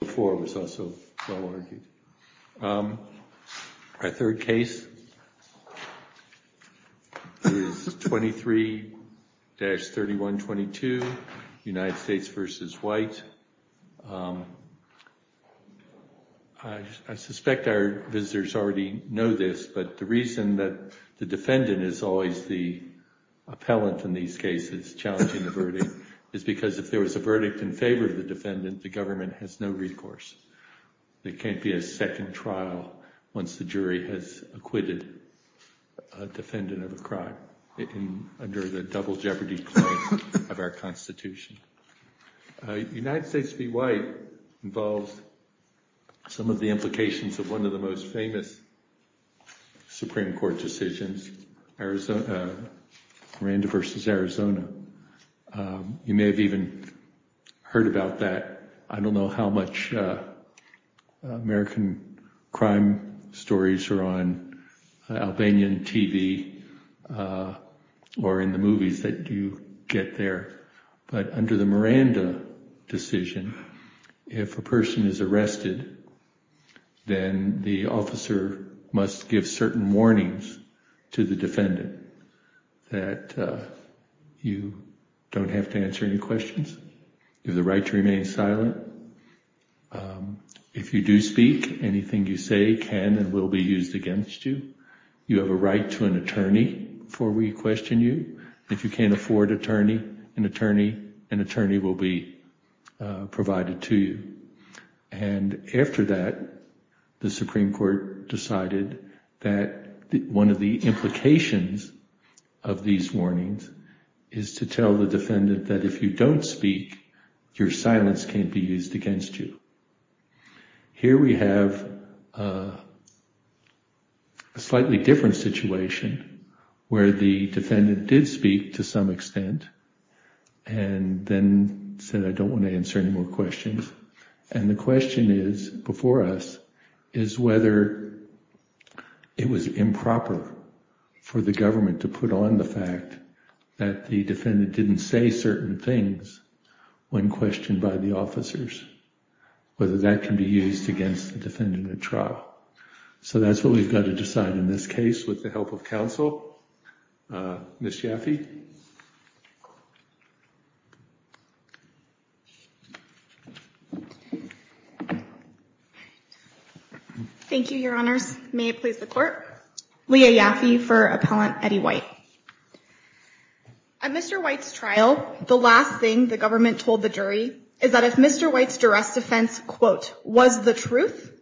I suspect our visitors already know this, but the reason that the defendant is always the appellant in these cases, challenging the verdict, is because if there was a verdict in favor of the defendant, the government has no recourse. There can't be a second trial once the jury has acquitted a defendant of a crime under the double jeopardy claim of our Constitution. The United States v. White involves some of the implications of one of the most famous Supreme Court decisions, Miranda v. Arizona. You may have even heard about that. I don't know how much American crime stories are on Albanian TV or in the movies that you get there, but under the Miranda decision, if a person is arrested, then the officer must give certain warnings to the defendant that you don't have to answer any questions. You have the right to remain silent. If you do speak, anything you say can and will be used against you. You have a right to an attorney before we question you. If you can't afford an attorney, an attorney will be provided to you. And after that, the Supreme Court decided that one of the implications of these warnings is to tell the defendant that if you don't speak, your silence can't be used against you. Here we have a slightly different situation where the defendant did speak to some extent and then said, I don't want to answer any more questions. And the question is, before us, is whether it was improper for the government to put on the fact that the defendant didn't say certain things when questioned by the officers, whether that can be used against the defendant at trial. So that's what we've got to decide in this case with the help of counsel. Ms. Leah Yaffe for Appellant Eddie White. At Mr. White's trial, the last thing the government told the jury is that if Mr. White's duress defense, quote, was the truth,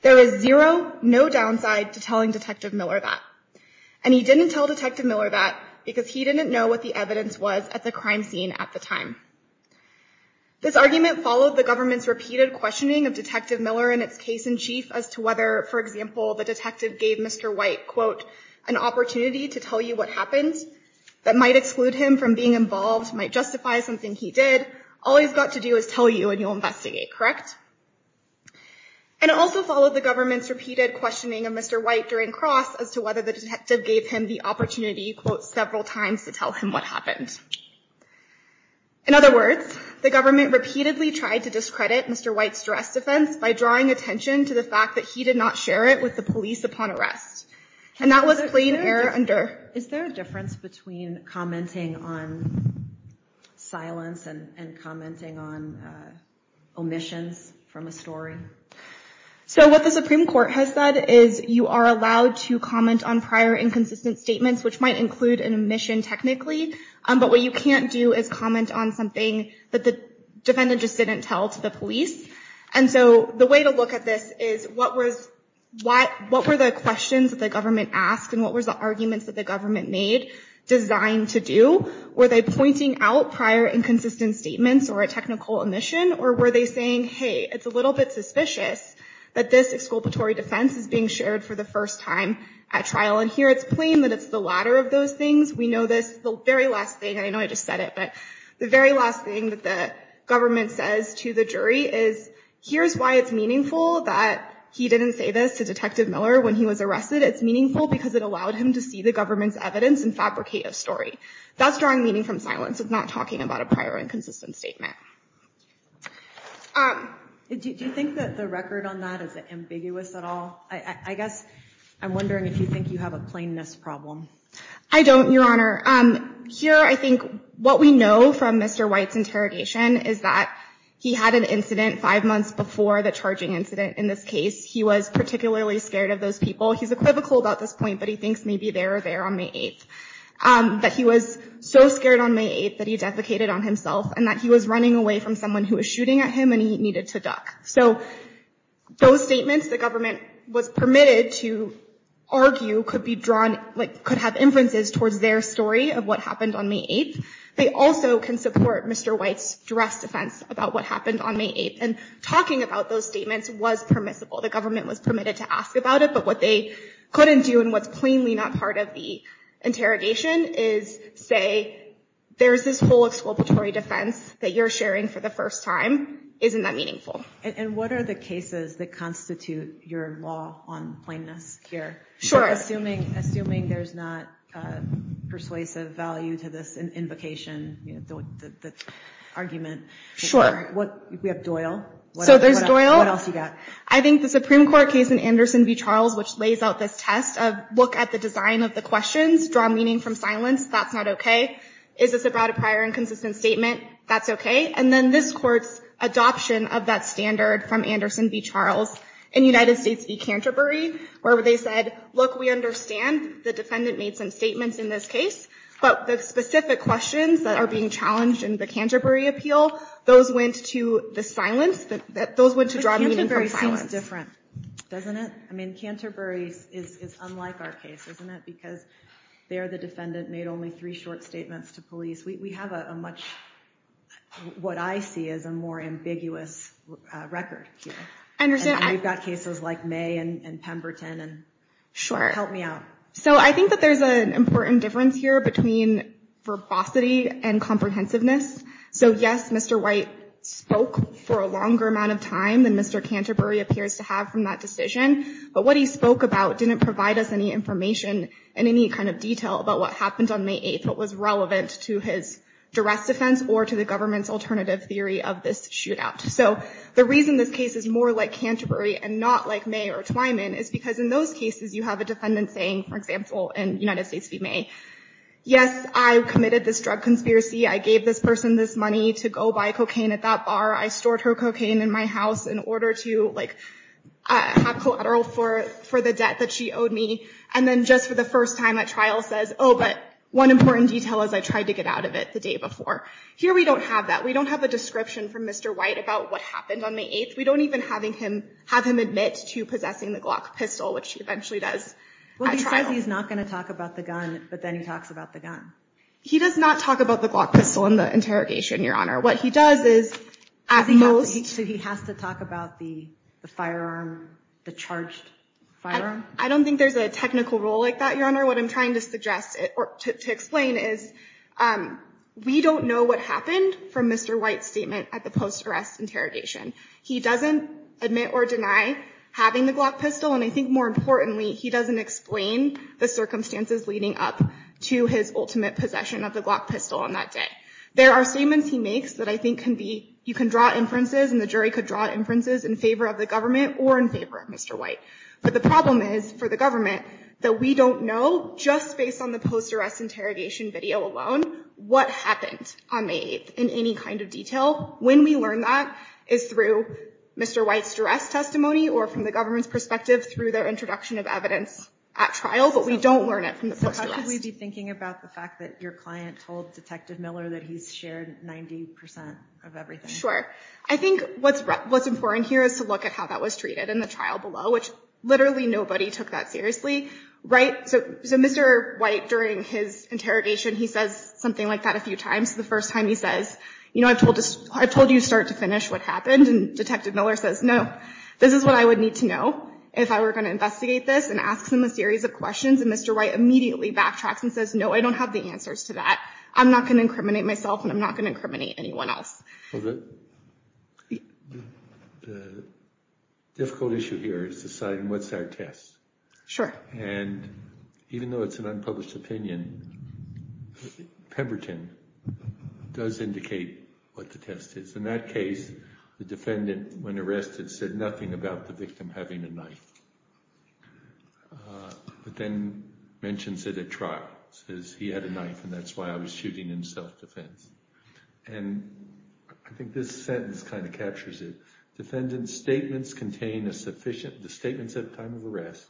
there is zero, no downside to telling Detective Miller that. And he didn't tell Detective Miller that because he didn't know what the evidence was at the crime scene at the time. This argument followed the government's repeated questioning of Detective Miller and its case in chief as to whether, for example, the detective gave Mr. White, quote, an opportunity to tell you what happened that might exclude him from being involved, might justify something he did. All he's got to do is tell you and you'll investigate, correct? And it also followed the government's repeated questioning of Mr. White during cross as to whether the detective gave him the opportunity, quote, several times to tell him what happened. In other words, the government repeatedly tried to discredit Mr. White's duress defense by drawing attention to the fact that he did not share it with the police upon arrest. And that was a plain error under... Is there a difference between commenting on silence and commenting on omissions from a story? So what the Supreme Court has said is you are allowed to comment on prior inconsistent statements, which might include an omission technically. But what you can't do is comment on something that the defendant just didn't tell to the police. And so the way to look at this is what were the questions that the government asked and what was the arguments that the government made designed to do? Were they pointing out prior inconsistent statements or a technical omission? Or were they saying, hey, it's a little bit suspicious that this exculpatory defense is being shared for the first time at trial? And here it's plain that it's the latter of those things. We know this, the very last thing, I know I just said it, the very last thing that the government says to the jury is, here's why it's meaningful that he didn't say this to Detective Miller when he was arrested. It's meaningful because it allowed him to see the government's evidence and fabricate a story. That's drawing meaning from silence. It's not talking about a prior inconsistent statement. Do you think that the record on that is ambiguous at all? I guess I'm wondering if you think you have a plainness problem. I don't, Your Honor. Here I think what we know from Mr. White's interrogation is that he had an incident five months before the charging incident in this case. He was particularly scared of those people. He's equivocal about this point, but he thinks maybe they were there on May 8th. But he was so scared on May 8th that he defecated on himself and that he was running away from someone who was shooting at him and he needed to duck. So those statements the government was permitted to argue could have influences towards their story of what happened on May 8th. They also can support Mr. White's direct defense about what happened on May 8th. And talking about those statements was permissible. The government was permitted to ask about it, but what they couldn't do and what's plainly not part of the interrogation is say, there's this whole exploratory defense that you're sharing for the first time. Isn't that meaningful? And what are the cases that constitute your law on plainness here? Assuming there's not persuasive value to this invocation argument. We have Doyle. What else have you got? I think the Supreme Court case in Anderson v. Charles, which lays out this test of look at the design of the questions, draw meaning from silence, that's not okay. Is this about a prior and consistent statement? That's okay. And then this court's adoption of that standard from Anderson v. Charles in United States v. Canterbury, where they said, look, we understand the defendant made some statements in this case, but the specific questions that are being challenged in the Canterbury appeal, those went to the silence. Those went to draw meaning from silence. But Canterbury seems different, doesn't it? I mean, Canterbury is unlike our case, isn't it? Because there the defendant made only three short statements to police. We have a much, what I see as a more ambiguous record here. And we've got cases like May and Pemberton. Help me out. So I think that there's an important difference here between verbosity and comprehensiveness. So yes, Mr. White spoke for a longer amount of time than Mr. Canterbury appears to have from that decision. But what he spoke about didn't provide us any information and any kind of detail about what happened on May 8th, what was relevant to his duress defense or to the government's alternative theory of this shootout. So the reason this case is more like Canterbury and not like May or Twyman is because in those cases you have a defendant saying, for example, in United States v. May, yes, I committed this drug conspiracy. I gave this person this money to go buy cocaine at that bar. I stored her cocaine in my house in order to have collateral for the debt that she owed me. And then just for the first time at trial says, oh, but one important detail is I tried to get out of it the day before. Here we don't have that. We don't have a description from Mr. White about what happened on May 8th. We don't even have him admit to possessing the Glock pistol, which he eventually does at trial. Well, he says he's not going to talk about the gun, but then he talks about the gun. He does not talk about the Glock pistol in the interrogation, Your Honor. What he does is at most— So he has to talk about the firearm, the charged firearm? I don't think there's a technical rule like that, Your Honor. What I'm trying to suggest or to explain is we don't know what happened from Mr. White's statement at the post-arrest interrogation. He doesn't admit or deny having the Glock pistol. And I think more importantly, he doesn't explain the circumstances leading up to his ultimate possession of the Glock pistol on that day. There are statements he makes that I think you can draw inferences and the jury could draw inferences in favor of the government or in favor of Mr. White. But the problem is for the government that we don't know just based on the post-arrest interrogation video alone what happened on May 8th in any kind of detail. When we learn that is through Mr. White's duress testimony or from the government's perspective through their introduction of evidence at trial, but we don't learn it from the post-arrest. How could we be thinking about the fact that your client told Detective Miller that he's shared 90% of everything? Sure. I think what's important here is to look at how that was treated in the trial below, which literally nobody took that seriously. So Mr. White, during his interrogation, he says something like that a few times. The first time he says, I've told you to start to finish what happened. And Detective Miller says, no, this is what I would need to know if I were going to investigate this and asks him a series of questions. And Mr. White immediately backtracks and says, no, I don't have the answers to that. I'm not going to incriminate myself and I'm not going to incriminate anyone else. The difficult issue here is deciding what's our test. And even though it's an unpublished opinion, Pemberton does indicate what the test is. In that case, the defendant, when he came to the trial, says he had a knife and that's why I was shooting in self-defense. And I think this sentence kind of captures it. Defendant's statements contain a sufficient – the statements at the time of arrest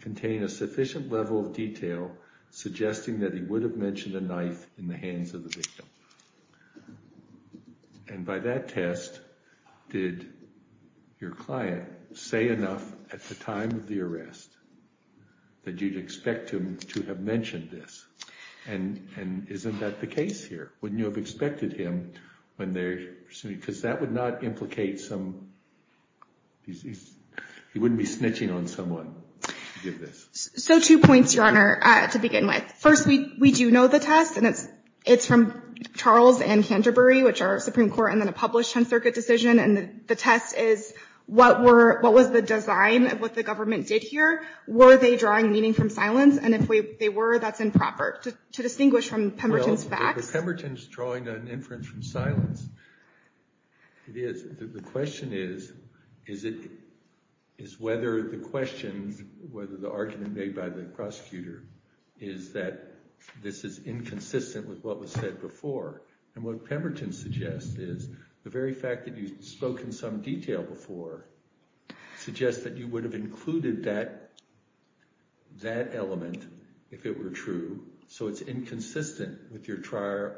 contain a sufficient level of detail suggesting that he would have mentioned a knife in the hands of the victim. And by that test, did your client say enough at the time of the arrest that you'd expect him to have mentioned this? And isn't that the case here? Wouldn't you have expected him when they're – because that would not implicate some – he wouldn't be snitching on someone to give this. So two points, Your Honor, to begin with. First, we do know the test and it's from Charles and Canterbury, which are Supreme Court and then a published 10th Circuit decision. And the test is what were – what was the design of what the government did here? Were they drawing meaning from silence? And if they were, that's improper. To distinguish from Pemberton's facts. Well, if Pemberton's drawing an inference from silence, it is. The question is, is it – is whether the question – whether the argument made by the prosecutor is that this is inconsistent with what was said before. And what Pemberton suggests is the very fact that you spoke in some detail before suggests that you would have included that element if it were true. So it's inconsistent with your prior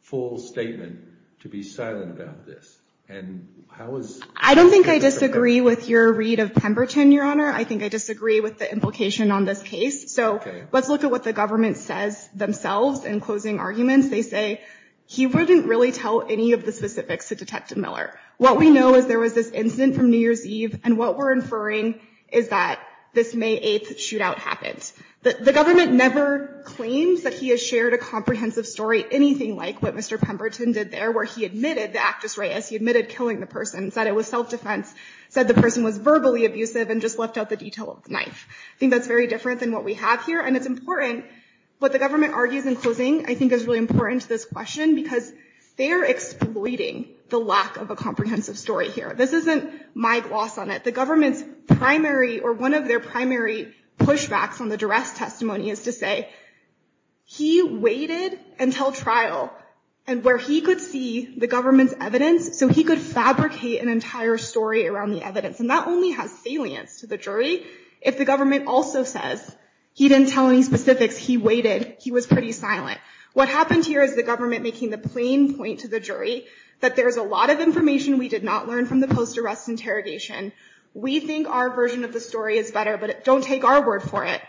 full statement to be silent about this. And how is – I don't think I disagree with your read of Pemberton, Your Honor. I think I disagree with the implication on this case. So let's look at what the government says themselves in closing arguments. They say, he wouldn't really tell any of the specifics to Detective Miller. What we know is there was this incident from New Year's Eve, and what we're inferring is that this May 8th shootout happened. The government never claims that he has shared a comprehensive story, anything like what Mr. Pemberton did there, where he admitted – the actus reus – he admitted killing the person, said it was self-defense, said the person was verbally abusive, and just left out the detail of the knife. I think that's very different than what we have here. And it's important, what the government argues in closing, I think is really important to this question, because they're exploiting the lack of a comprehensive story here. This isn't my gloss on it. The government's primary, or one of their primary pushbacks on the duress testimony is to say, he waited until trial, and where he could see the government's evidence, so he could fabricate an entire story around the evidence. And that only has salience to the jury if the government also says, he didn't tell any specifics, he waited, he was pretty silent. What happened here is the government making the plain point to the jury that there's a lot of information we did not learn from the post-arrest interrogation. We think our version of the story is better, but don't take our word for it.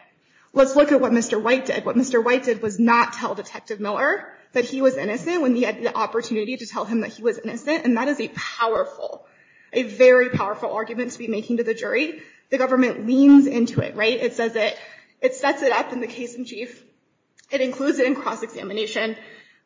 Let's look at what Mr. White did. What Mr. White did was not tell Detective Miller that he was innocent when he had the opportunity to tell him that he was innocent, and that is a powerful, a very powerful argument to be part of it. It sets it up in the case in chief. It includes it in cross-examination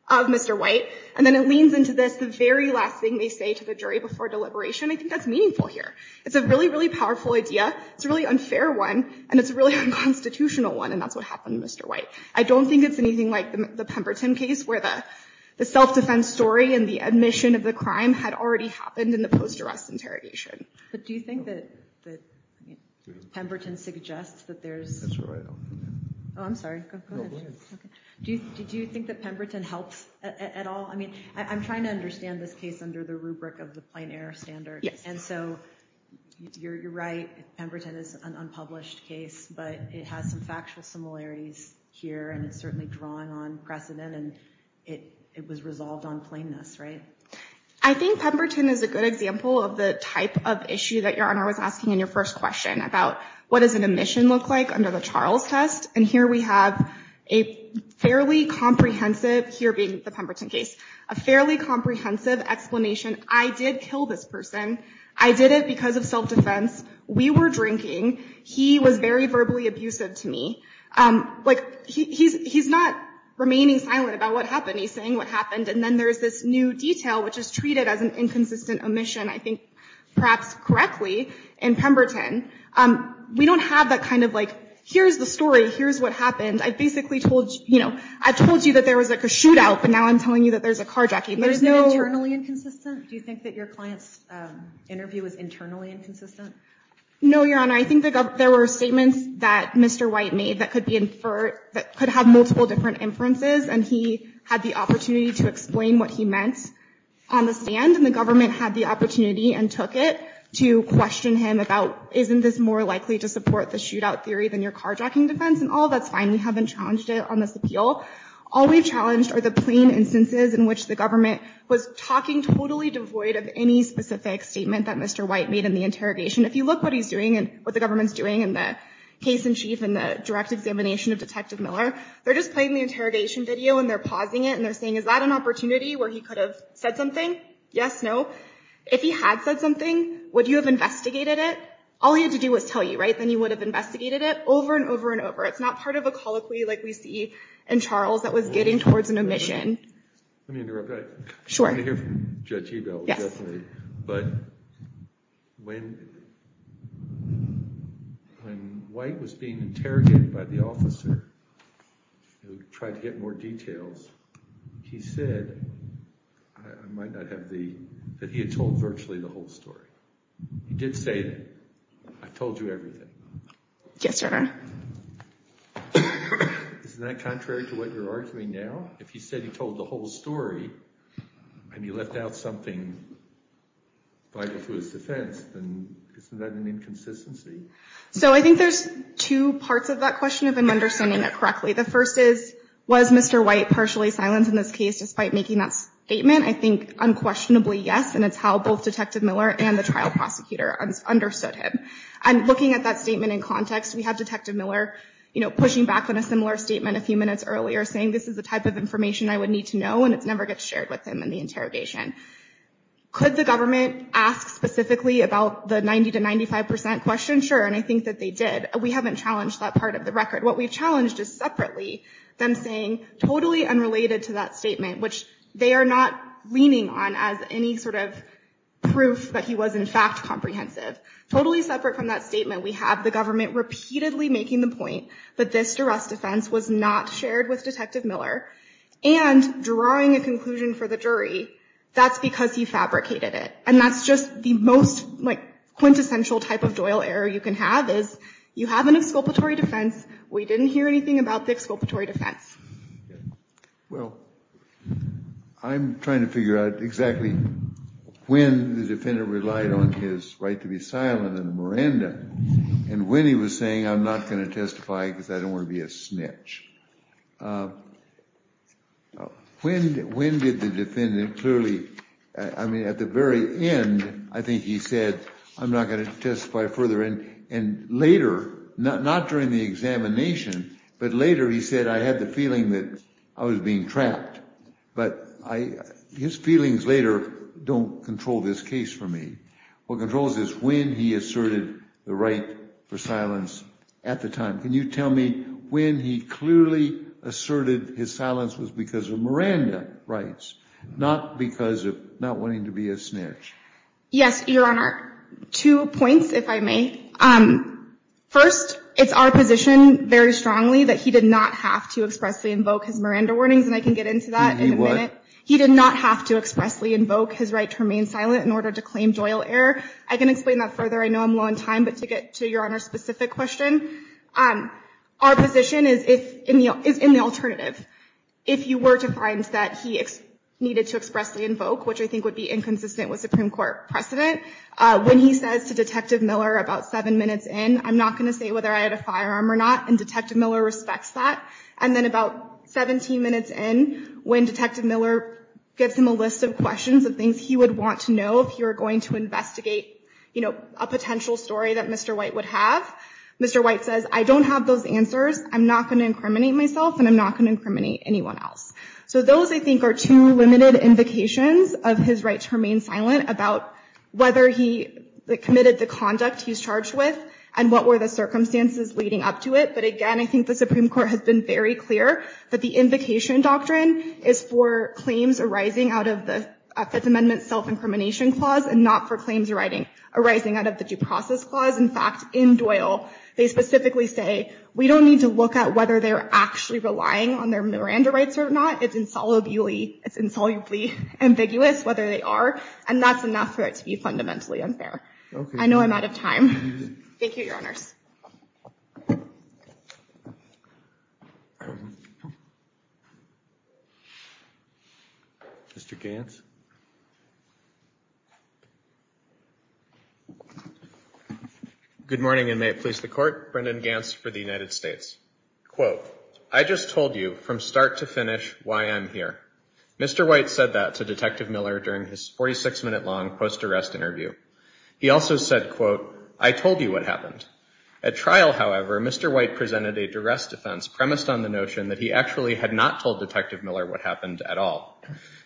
of Mr. White, and then it leans into this, the very last thing they say to the jury before deliberation. I think that's meaningful here. It's a really, really powerful idea. It's a really unfair one, and it's a really unconstitutional one, and that's what happened to Mr. White. I don't think it's anything like the Pemberton case, where the self-defense story and the admission of the crime had already happened in the post-arrest interrogation. But do you think that Pemberton suggests that there's... That's where I am. Oh, I'm sorry. Go ahead. No, go ahead. Okay. Do you think that Pemberton helps at all? I mean, I'm trying to understand this case under the rubric of the plein air standard, and so you're right. Pemberton is an unpublished case, but it has some factual similarities here, and it's certainly drawing on precedent, and it was resolved on plainness, right? I think Pemberton is a good example of the type of issue that Your Honor was asking in your first question about what does an admission look like under the Charles test, and here we have a fairly comprehensive, here being the Pemberton case, a fairly comprehensive explanation. I did kill this person. I did it because of self-defense. We were drinking. He was very verbally abusive to me. He's not remaining silent about what happened. He's not... There's this new detail, which is treated as an inconsistent admission, I think, perhaps correctly in Pemberton. We don't have that kind of like, here's the story. Here's what happened. I basically told you... I told you that there was a shootout, but now I'm telling you that there's a carjacking. There's no... Was it internally inconsistent? Do you think that your client's interview was internally inconsistent? No, Your Honor. I think there were statements that Mr. White made that could have multiple different inferences, and he had the opportunity to explain what he meant on the stand, and the government had the opportunity and took it to question him about, isn't this more likely to support the shootout theory than your carjacking defense? And all that's fine. We haven't challenged it on this appeal. All we've challenged are the plain instances in which the government was talking totally devoid of any specific statement that Mr. White made in the interrogation. If you look what he's doing and what the government's doing in the case-in-chief and the direct examination of Detective Miller, they're just playing the interrogation video and they're pausing it and they're saying, is that an opportunity where he could have said something? Yes? No? If he had said something, would you have investigated it? All he had to do was tell you, right? Then he would have investigated it over and over and over. It's not part of a colloquy like we see in Charles that was getting towards an omission. Let me interrupt. I want to hear from Judge Ebel, definitely. But when... When White was being interrogated by the officer who tried to get more details, he said that he had told virtually the whole story. He did say, I told you everything. Yes, sir. Isn't that contrary to what you're arguing now? If he said he told the whole story and he left out something vital to his defense, then isn't that an inconsistency? So I think there's two parts of that question, if I'm understanding that correctly. The first is, was Mr. White partially silenced in this case despite making that statement? I think unquestionably yes, and it's how both Detective Miller and the trial prosecutor understood him. And looking at that statement in context, we have Detective Miller, you know, pushing back on a similar statement a few minutes earlier, saying this is the type of information I would need to know and it never gets shared with him in the interrogation. Could the government ask specifically about the 90 to 95 percent question? Sure, and I think that they did. We haven't challenged that part of the record. What we've challenged is separately them saying totally unrelated to that statement, which they are not leaning on as any sort of proof that he was in fact comprehensive. Totally separate from that statement, we have the government repeatedly making the point that this duress defense was not shared with Detective Miller, and drawing a conclusion for the jury, that's because he fabricated it. And that's just the most quintessential type of Doyle error you can have, is you have an exculpatory defense, we didn't hear anything about the exculpatory defense. Well, I'm trying to figure out exactly when the defendant relied on his right to be silent and when he was saying I'm not going to testify because I don't want to be a snitch. When did the defendant clearly, I mean at the very end, I think he said I'm not going to testify further, and later, not during the examination, but later he said I had the feeling that I was being trapped, but his feelings later don't control this case for me. What controls is when he asserted the right for silence at the time. Can you tell me when he clearly asserted his silence was because of Miranda rights, not because of not wanting to be a snitch? Yes, Your Honor. Two points, if I may. First, it's our position very strongly that he did not have to expressly invoke his Miranda warnings, and I can get into that in a minute. He did not have to expressly invoke his right to remain silent in order to claim Doyle error. I can explain that further. I know I'm low on time, but to get to Your Honor's specific question, our position is in the alternative. If you were to find that he needed to expressly invoke, which I think would be inconsistent with Supreme Court precedent, when he says to Detective Miller about seven minutes in, I'm not going to say whether I had a firearm or not, and Detective Miller respects that. And then about 17 minutes in, when Detective Miller gives him a list of questions of things he would want to know if he were going to investigate, you know, a potential story that Mr. White would have, Mr. White says I don't have those answers, I'm not going to incriminate myself, and I'm not going to incriminate anyone else. So those, I think, are two limited invocations of his right to remain silent about whether he committed the conduct he's charged with and what were the circumstances leading up to it. But again, I think the Supreme Court has been very clear that the invocation doctrine is for claims arising out of the Fifth Amendment self-incrimination clause and not for claims arising out of the due process clause. In fact, in Doyle, they specifically say we don't need to look at whether they're actually relying on their Miranda rights or not. It's insolubly, it's insolubly ambiguous whether they are, and that's enough for it to be fundamentally unfair. I know I'm out of time. Thank you, Your Honors. Good morning, and may it please the Court. Brendan Gantz for the United States. Quote, I just told you from start to finish why I'm here. Mr. White said that to Detective Miller during his 46-minute long post-arrest interview. He also said, quote, I told you what happened. At trial, however, Mr. White presented a duress defense premised on the notion that he actually had not told Detective Miller what happened at all.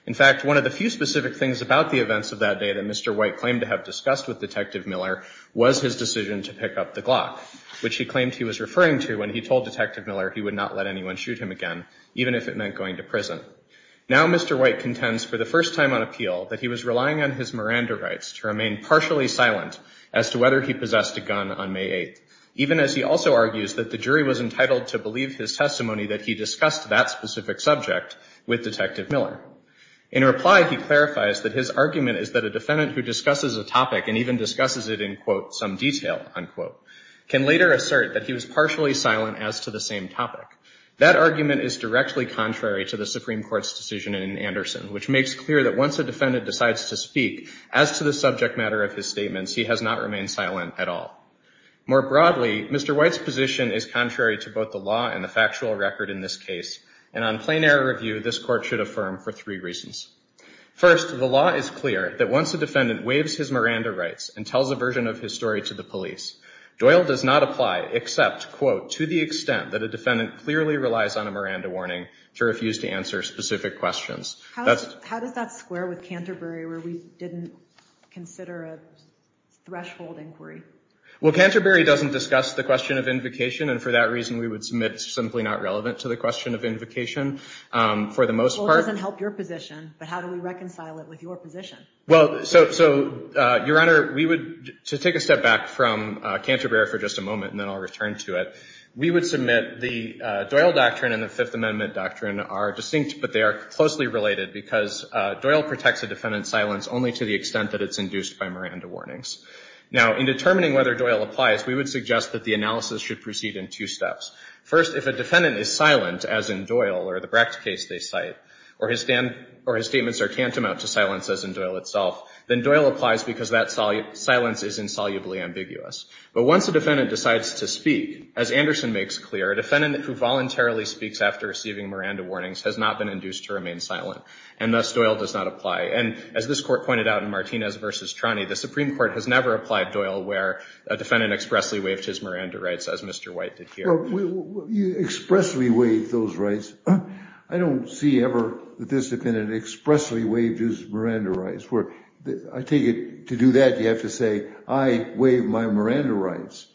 In fact, one of the few specific things about the events of that day that Mr. White claimed to have discussed with Detective Miller was his decision to pick up the Glock, which he claimed he was referring to when he told Detective Miller he would not let anyone shoot him again, even if it meant going to prison. Now Mr. White contends for the first time on appeal that he was relying on his Miranda rights to remain partially silent as to whether he possessed a gun on May 8th, even as he also argues that the jury was entitled to believe his testimony that he discussed that specific subject with Detective Miller. In reply, he clarifies that his argument is that a defendant who discusses a topic and even discusses it in, quote, some detail, unquote, can later assert that he was partially silent as to the same topic. That argument is directly contrary to the Supreme Court's decision in Anderson, which makes clear that once a defendant decides to speak as to the subject matter of his statements, he has not remained silent at all. More broadly, Mr. White's position is contrary to both the law and the factual record in this case, and on plenary review, this court should affirm for three reasons. First, the law is clear that once a defendant waives his Miranda rights and tells a version of his story to the police, Doyle does not apply except, quote, to the extent that a defendant clearly relies on a Miranda warning to refuse to answer specific questions. How does that square with Canterbury, where we didn't consider a threshold inquiry? Well, Canterbury doesn't discuss the question of invocation, and for that reason, we would submit it's simply not relevant to the question of invocation, for the most part. Well, it doesn't help your position, but how do we reconcile it with your position? Well, so, Your Honor, we would, to take a step back from Canterbury for just a moment, and then I'll return to it, we would submit the Doyle Doctrine and the Fifth Amendment Doctrine are distinct, but they are closely related, because Doyle protects a defendant's silence only to the extent that it's induced by Miranda warnings. Now, in determining whether Doyle applies, we would suggest that the analysis should proceed in two steps. First, if a defendant is silent, as in Doyle or the Brecht case they cite, or his statements are tantamount to silence, as in Doyle itself, then Doyle applies because that silence is insolubly ambiguous. But once a defendant decides to speak, as Anderson makes clear, a defendant who voluntarily speaks after receiving Miranda warnings has not been induced to remain silent, and thus, Doyle does not apply. And as this Court pointed out in Martinez v. Trani, the Supreme Court has never applied Doyle where a defendant expressly waived his Miranda rights, as Mr. White did here. Well, you expressly waived those rights. I don't see ever that this defendant expressly waived his Miranda rights. I take it, to do that, you have to say, I waived my Miranda rights.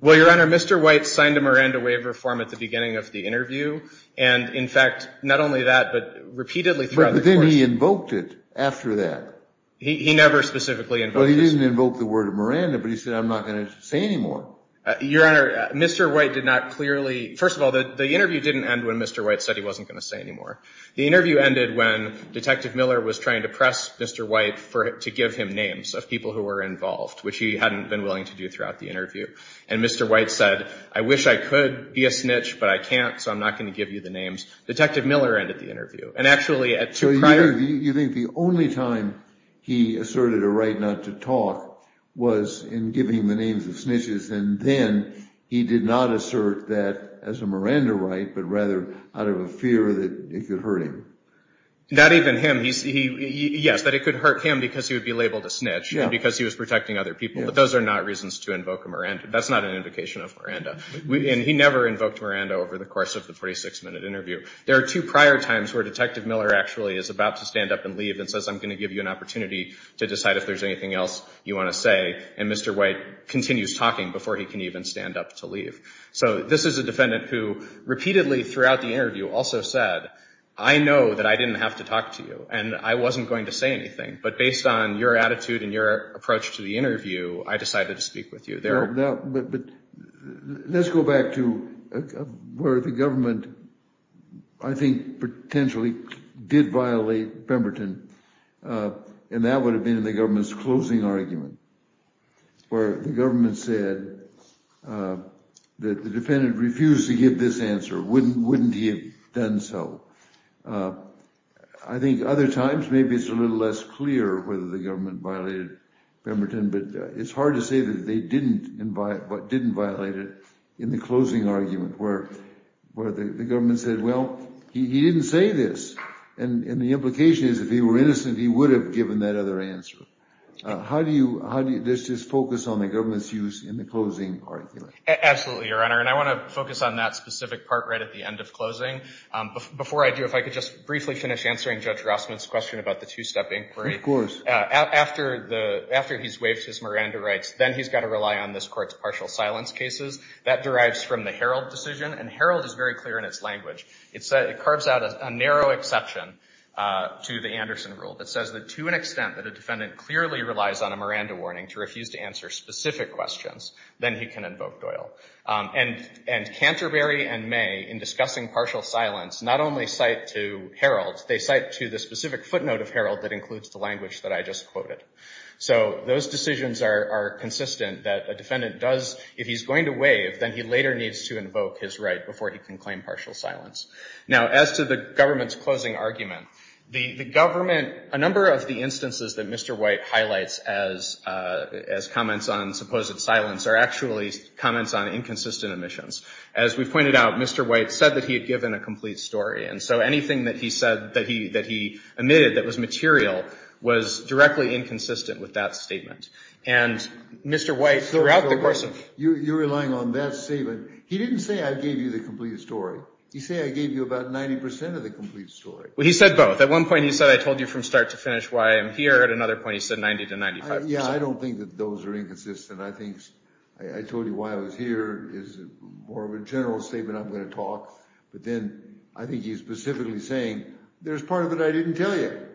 Well, Your Honor, Mr. White signed a Miranda waiver form at the beginning of the interview, and in fact, not only that, but repeatedly throughout the course of the interview. But then he invoked it after that. He never specifically invoked it. Well, he didn't invoke the word Miranda, but he said, I'm not going to say anymore. Your Honor, Mr. White did not clearly, first of all, the interview didn't end when Mr. White said he wasn't going to say anymore. The interview ended when Detective Miller was trying to press Mr. White to give him names of people who were involved, which he hadn't been willing to do throughout the interview. And Mr. White said, I wish I could be a snitch, but I can't, so I'm not going to give you the names. Detective Miller ended the interview. And actually, at two prior... So you think the only time he asserted a right not to talk was in giving the names of snitches, and then he did not assert that as a Miranda right, but rather out of a fear that it could hurt him. Not even him. Yes, that it could hurt him because he would be labeled a snitch and because he was protecting other people. But those are not reasons to invoke a Miranda. That's not an invocation of Miranda. And he never invoked Miranda over the course of the 46-minute interview. There are two prior times where Detective Miller actually is about to stand up and leave and says, I'm going to give you an opportunity to decide if there's anything else you want to say. And Mr. White continues talking before he can even stand up to leave. So this is a defendant who repeatedly throughout the interview also said, I know that I didn't have to talk to you, and I wasn't going to say anything. But based on your attitude and your approach to the interview, I decided to speak with you. But let's go back to where the government, I think, potentially did violate Pemberton. And that would have been in the government's closing argument, where the government said that the defendant refused to give this answer. Wouldn't he have done so? I think other times, maybe it's a little less clear whether the government violated Pemberton. But it's hard to say that they didn't violate it in the closing argument, where the government said, well, he didn't say this. And the implication is, if he were innocent, he would have given that other answer. How do you, does this focus on the government's use in the closing argument? Absolutely, Your Honor. And I want to focus on that specific part right at the end of closing. Before I do, if I could just briefly finish answering Judge Rossman's question about the two-step inquiry. Of course. After he's waived his Miranda rights, then he's got to rely on this court's partial silence cases. That derives from the Herald decision. And Herald is very clear in its language. It carves out a narrow exception to the Anderson rule that says that to an extent that a defendant clearly relies on a Miranda warning to refuse to answer specific questions, then he can invoke Doyle. And Canterbury and May, in discussing partial silence, not only cite to Herald, they cite to the specific footnote of Herald that includes the language that I just quoted. So those decisions are consistent that a defendant does, if he's going to waive, then he later needs to invoke his right before he can claim partial silence. Now, as to the government's closing argument, the government, a number of the instances that Mr. White highlights as comments on supposed silence are actually comments on inconsistent omissions. As we've pointed out, Mr. White said that he had given a complete story. And so anything that he said, that he omitted that was material, was directly inconsistent with that statement. And Mr. White, throughout the course of the case. You're relying on that statement. He didn't say I gave you the complete story. He said I gave you about 90% of the complete story. Well, he said both. At one point, he said I told you from start to finish why I'm here. At another point, he said 90 to 95%. Yeah, I don't think that those are inconsistent. I think I told you why I was here is more of a general statement I'm going to talk. But then I think he's specifically saying, there's part of it I didn't tell you.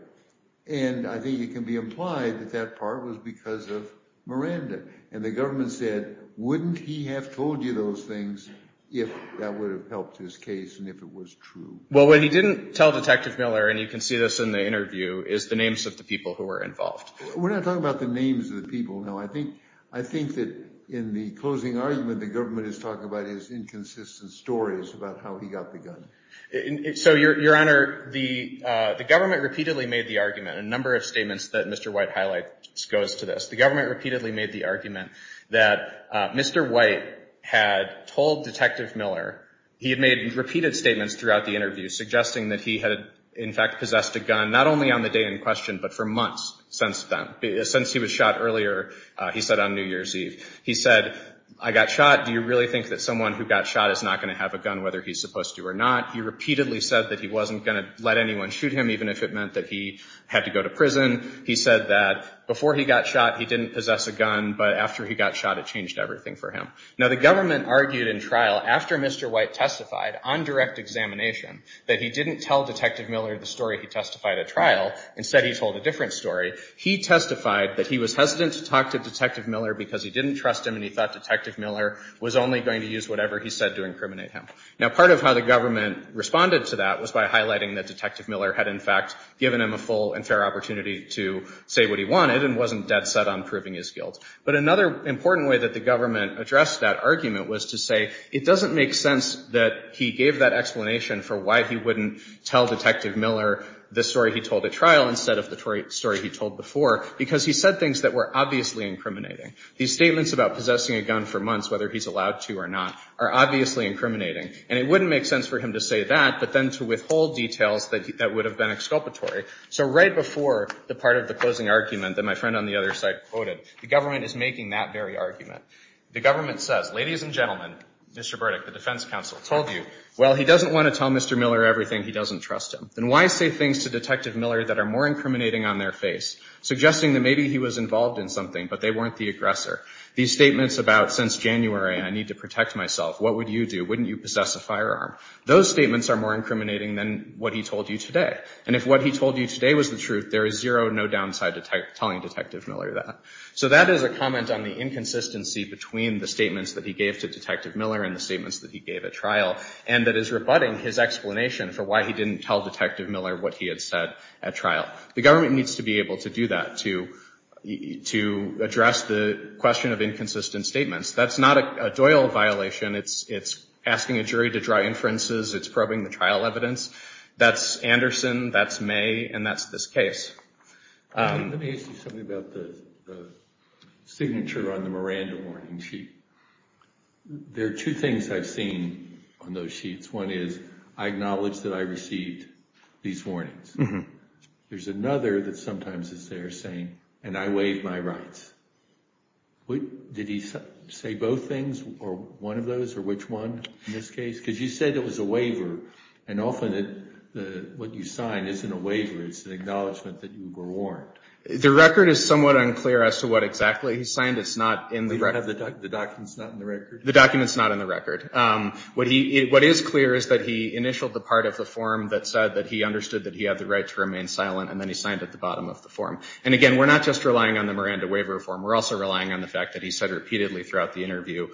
And I think it can be implied that that part was because of Miranda. And the government said, wouldn't he have told you those things if that would have helped his case and if it was true? Well, what he didn't tell Detective Miller, and you can see this in the interview, is the names of the people who were involved. We're not talking about the names of the people, no. I think that in the closing argument, the government is talking about his inconsistent stories about how he got the gun. So, Your Honor, the government repeatedly made the argument. A number of statements that Mr. White highlights goes to this. The government repeatedly made the argument that Mr. White had told Detective Miller, he had made repeated statements throughout the interview suggesting that he had, in fact, possessed a gun, not only on the day in question, but for months since then. Since he was shot earlier, he said on New Year's Eve. He said, I got shot. Do you really think that someone who got shot is not going to have a gun, whether he's supposed to or not? He repeatedly said that he wasn't going to let anyone shoot him, even if it meant that he had to go to prison. He said that before he got shot, he didn't possess a gun. But after he got shot, it changed everything for him. Now, the government argued in trial, after Mr. White testified on direct examination, that he didn't tell Detective Miller the story he testified at trial. Instead, he told a different story. He testified that he was hesitant to talk to Detective Miller because he didn't trust him. And he thought Detective Miller was only going to use whatever he said to incriminate him. Now, part of how the government responded to that was by highlighting that Detective Miller had, in fact, given him a full and fair opportunity to say what he wanted and wasn't dead set on proving his guilt. But another important way that the government addressed that argument was to say, it doesn't make sense that he gave that explanation for why he wouldn't tell Detective Miller the story he told at trial instead of the story he told before. Because he said things that were obviously incriminating. These statements about possessing a gun for months, whether he's allowed to or not, are obviously incriminating. And it wouldn't make sense for him to say that, but then to withhold details that would have been exculpatory. So right before the part of the closing argument that my friend on the other side quoted, the government is making that very argument. The government says, ladies and gentlemen, Mr. Burdick, the defense counsel, told you, well, he doesn't want to tell Mr. Miller everything. He doesn't trust him. Then why say things to Detective Miller that are more incriminating on their face, suggesting that maybe he was involved in something, but they weren't the aggressor? These statements about, since January, I need to protect myself, what would you do? Wouldn't you possess a firearm? Those statements are more incriminating than what he told you today. And if what he told you today was the truth, there is zero, no downside to telling Detective Miller that. So that is a comment on the inconsistency between the statements that he gave to Detective Miller and the statements that he gave at trial, and that is rebutting his explanation for why he didn't tell Detective Miller what he had said at trial. The government needs to be able to do that to address the question of inconsistent statements. That's not a Doyle violation. It's asking a jury to draw inferences. It's probing the trial evidence. That's Anderson, that's May, and that's this case. Let me ask you something about the signature on the Miranda warning sheet. There are two things I've seen on those sheets. One is, I acknowledge that I received these warnings. There's another that sometimes is there saying, and I waive my rights. Did he say both things, or one of those, or which one in this case? Because you said it was a waiver, and often what you sign isn't a waiver. It's an acknowledgment that you were warned. The record is somewhat unclear as to what exactly he signed. It's not in the record. The document's not in the record? The document's not in the record. What is clear is that he initialed the part of the form that said that he understood that he had the right to remain silent, and then he signed at the bottom of the form. And again, we're not just relying on the Miranda waiver form. We're also relying on the fact that he said repeatedly throughout the interview,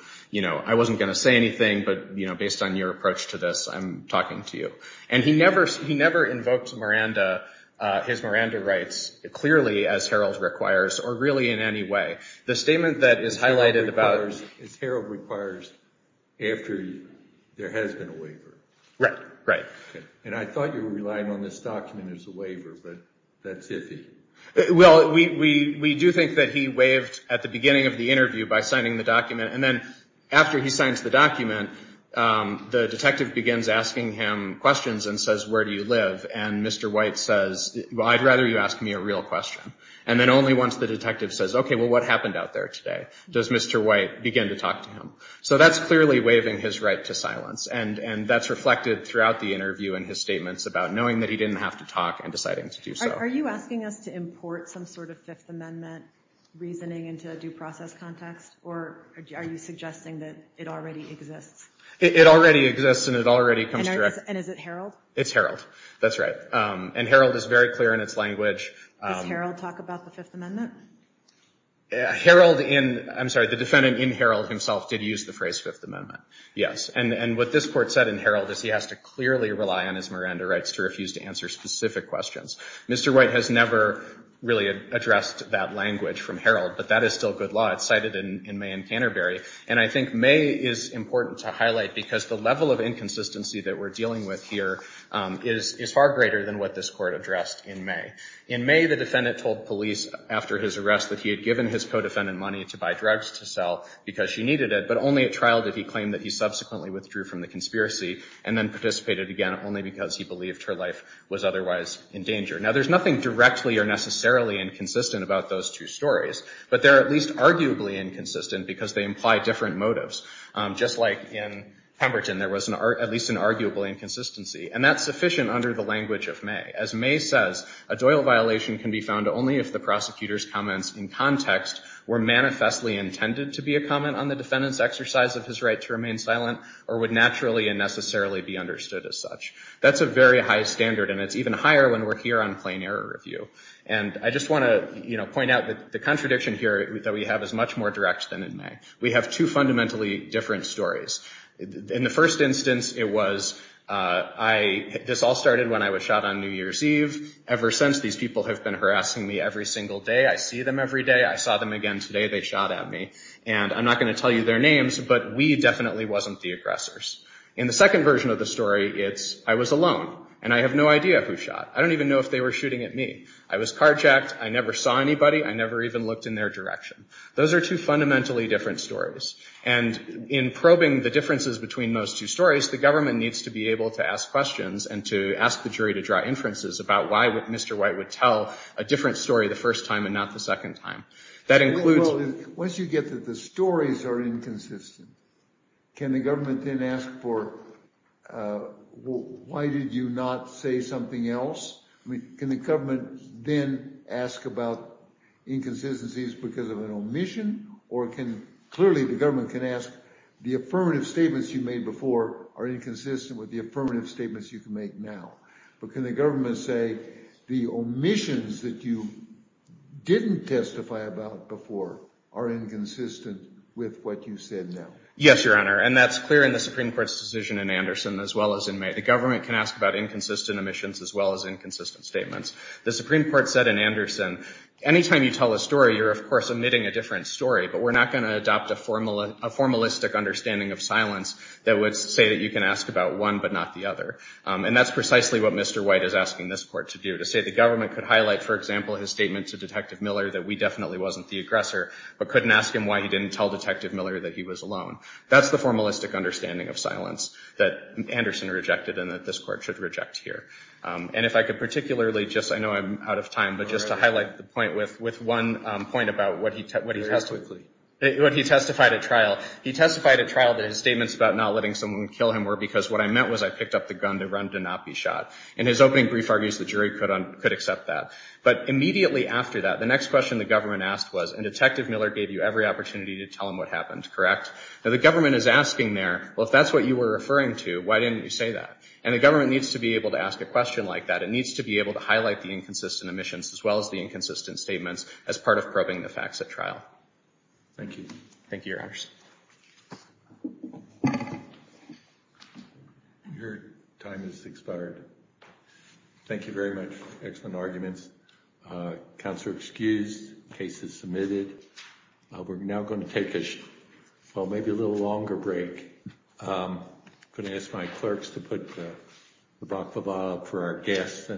I wasn't going to say anything, but based on your approach to this, I'm talking to you. And he never invoked his Miranda rights clearly, as Herald requires, or really in any way. The statement that is highlighted about it is, Herald requires after there has been a waiver. Right, right. And I thought you were relying on this document as a waiver, but that's iffy. Well, we do think that he waived at the beginning of the interview by signing the document. And then after he signs the document, the detective begins asking him questions and says, where do you live? And Mr. White says, well, I'd rather you ask me a real question. And then only once the detective says, OK, well, what happened out there today, does Mr. White begin to talk to him. So that's clearly waiving his right to silence. And that's reflected throughout the interview in his statements about knowing that he didn't have to talk and deciding to do so. Are you asking us to import some sort of Fifth Amendment reasoning into a due process context, or are you suggesting that it already exists? It already exists, and it already comes directly. And is it Herald? It's Herald. That's right. And Herald is very clear in its language. Does Herald talk about the Fifth Amendment? Herald in, I'm sorry, the defendant in Herald himself did use the phrase Fifth Amendment, yes. And what this court said in Herald is he has to clearly rely on his Miranda rights to refuse to answer specific questions. Mr. White has never really addressed that language from Herald, but that is still good law. It's cited in May and Canterbury. And I think May is important to highlight, because the level of inconsistency that we're dealing with here is far greater than what this court addressed in May. In May, the defendant told police after his arrest that he had given his co-defendant money to buy drugs to sell because she needed it, but only at trial did he claim that he subsequently withdrew from the conspiracy and then participated again only because he believed her life was otherwise in danger. Now, there's nothing directly or necessarily inconsistent about those two stories, but they're at least arguably inconsistent because they imply different motives. Just like in Pemberton, there was at least an arguably inconsistency. And that's sufficient under the language of May. As May says, a Doyle violation can be found only if the prosecutor's comments in context were manifestly intended to be a comment on the defendant's exercise of his right to remain silent or would naturally and necessarily be understood as such. That's a very high standard, and it's even higher when we're here on plain error review. And I just want to point out that the contradiction here that we have is much more direct than in May. We have two fundamentally different stories. In the first instance, it was, this all started when I was shot on New Year's Eve. Ever since, these people have been harassing me every single day. I see them every day. I saw them again today. They shot at me. And I'm not going to tell you their names, but we definitely wasn't the aggressors. In the second version of the story, it's, I was alone, and I have no idea who shot. I don't even know if they were shooting at me. I was carjacked. I never saw anybody. I never even looked in their direction. Those are two fundamentally different stories. And in probing the differences between those two stories, the government needs to be able to ask questions and to ask the jury to draw inferences about why Mr. White would tell a different story the first time and not the second time. That includes- Once you get that the stories are inconsistent, can the government then ask for, why did you not say something else? Can the government then ask about inconsistencies because of an omission? Or can, clearly the government can ask, the affirmative statements you made before are inconsistent with the affirmative statements you can make now. But can the government say, the omissions that you didn't testify about before are inconsistent with what you said now? Yes, Your Honor. And that's clear in the Supreme Court's decision in Anderson as well as in May. The government can ask about inconsistent omissions as well as inconsistent statements. The Supreme Court said in Anderson, anytime you tell a story, you're of course omitting a different story. But we're not going to adopt a formalistic understanding of silence that would say that you can ask about one, but not the other. And that's precisely what Mr. White is asking this court to do, to say the government could highlight, for example, his statement to Detective Miller that we definitely wasn't the aggressor, but couldn't ask him why he didn't tell Detective Miller that he was alone. That's the formalistic understanding of silence that Anderson rejected and that this court should reject here. And if I could particularly just, I know I'm out of time, but just to highlight the point with one point about what he testified at trial. He testified at trial that his statements about not letting someone kill him were because what I meant was I picked up the gun to run to not be shot. And his opening brief argues the jury could accept that. But immediately after that, the next question the government asked was, and Detective Miller gave you every opportunity to tell him what happened, correct? Now, the government is asking there, well, if that's what you were referring to, why didn't you say that? And the government needs to be able to ask a question like that. It needs to be able to highlight the inconsistent omissions, as well as the inconsistent statements, as part of probing the facts at trial. Thank you. Thank you, Your Honors. Your time has expired. Thank you very much. Excellent arguments. Counselor excused. Case is submitted. We're now going to take a, well, maybe a little longer break. I'm going to ask my clerks to put the baklava for our guests.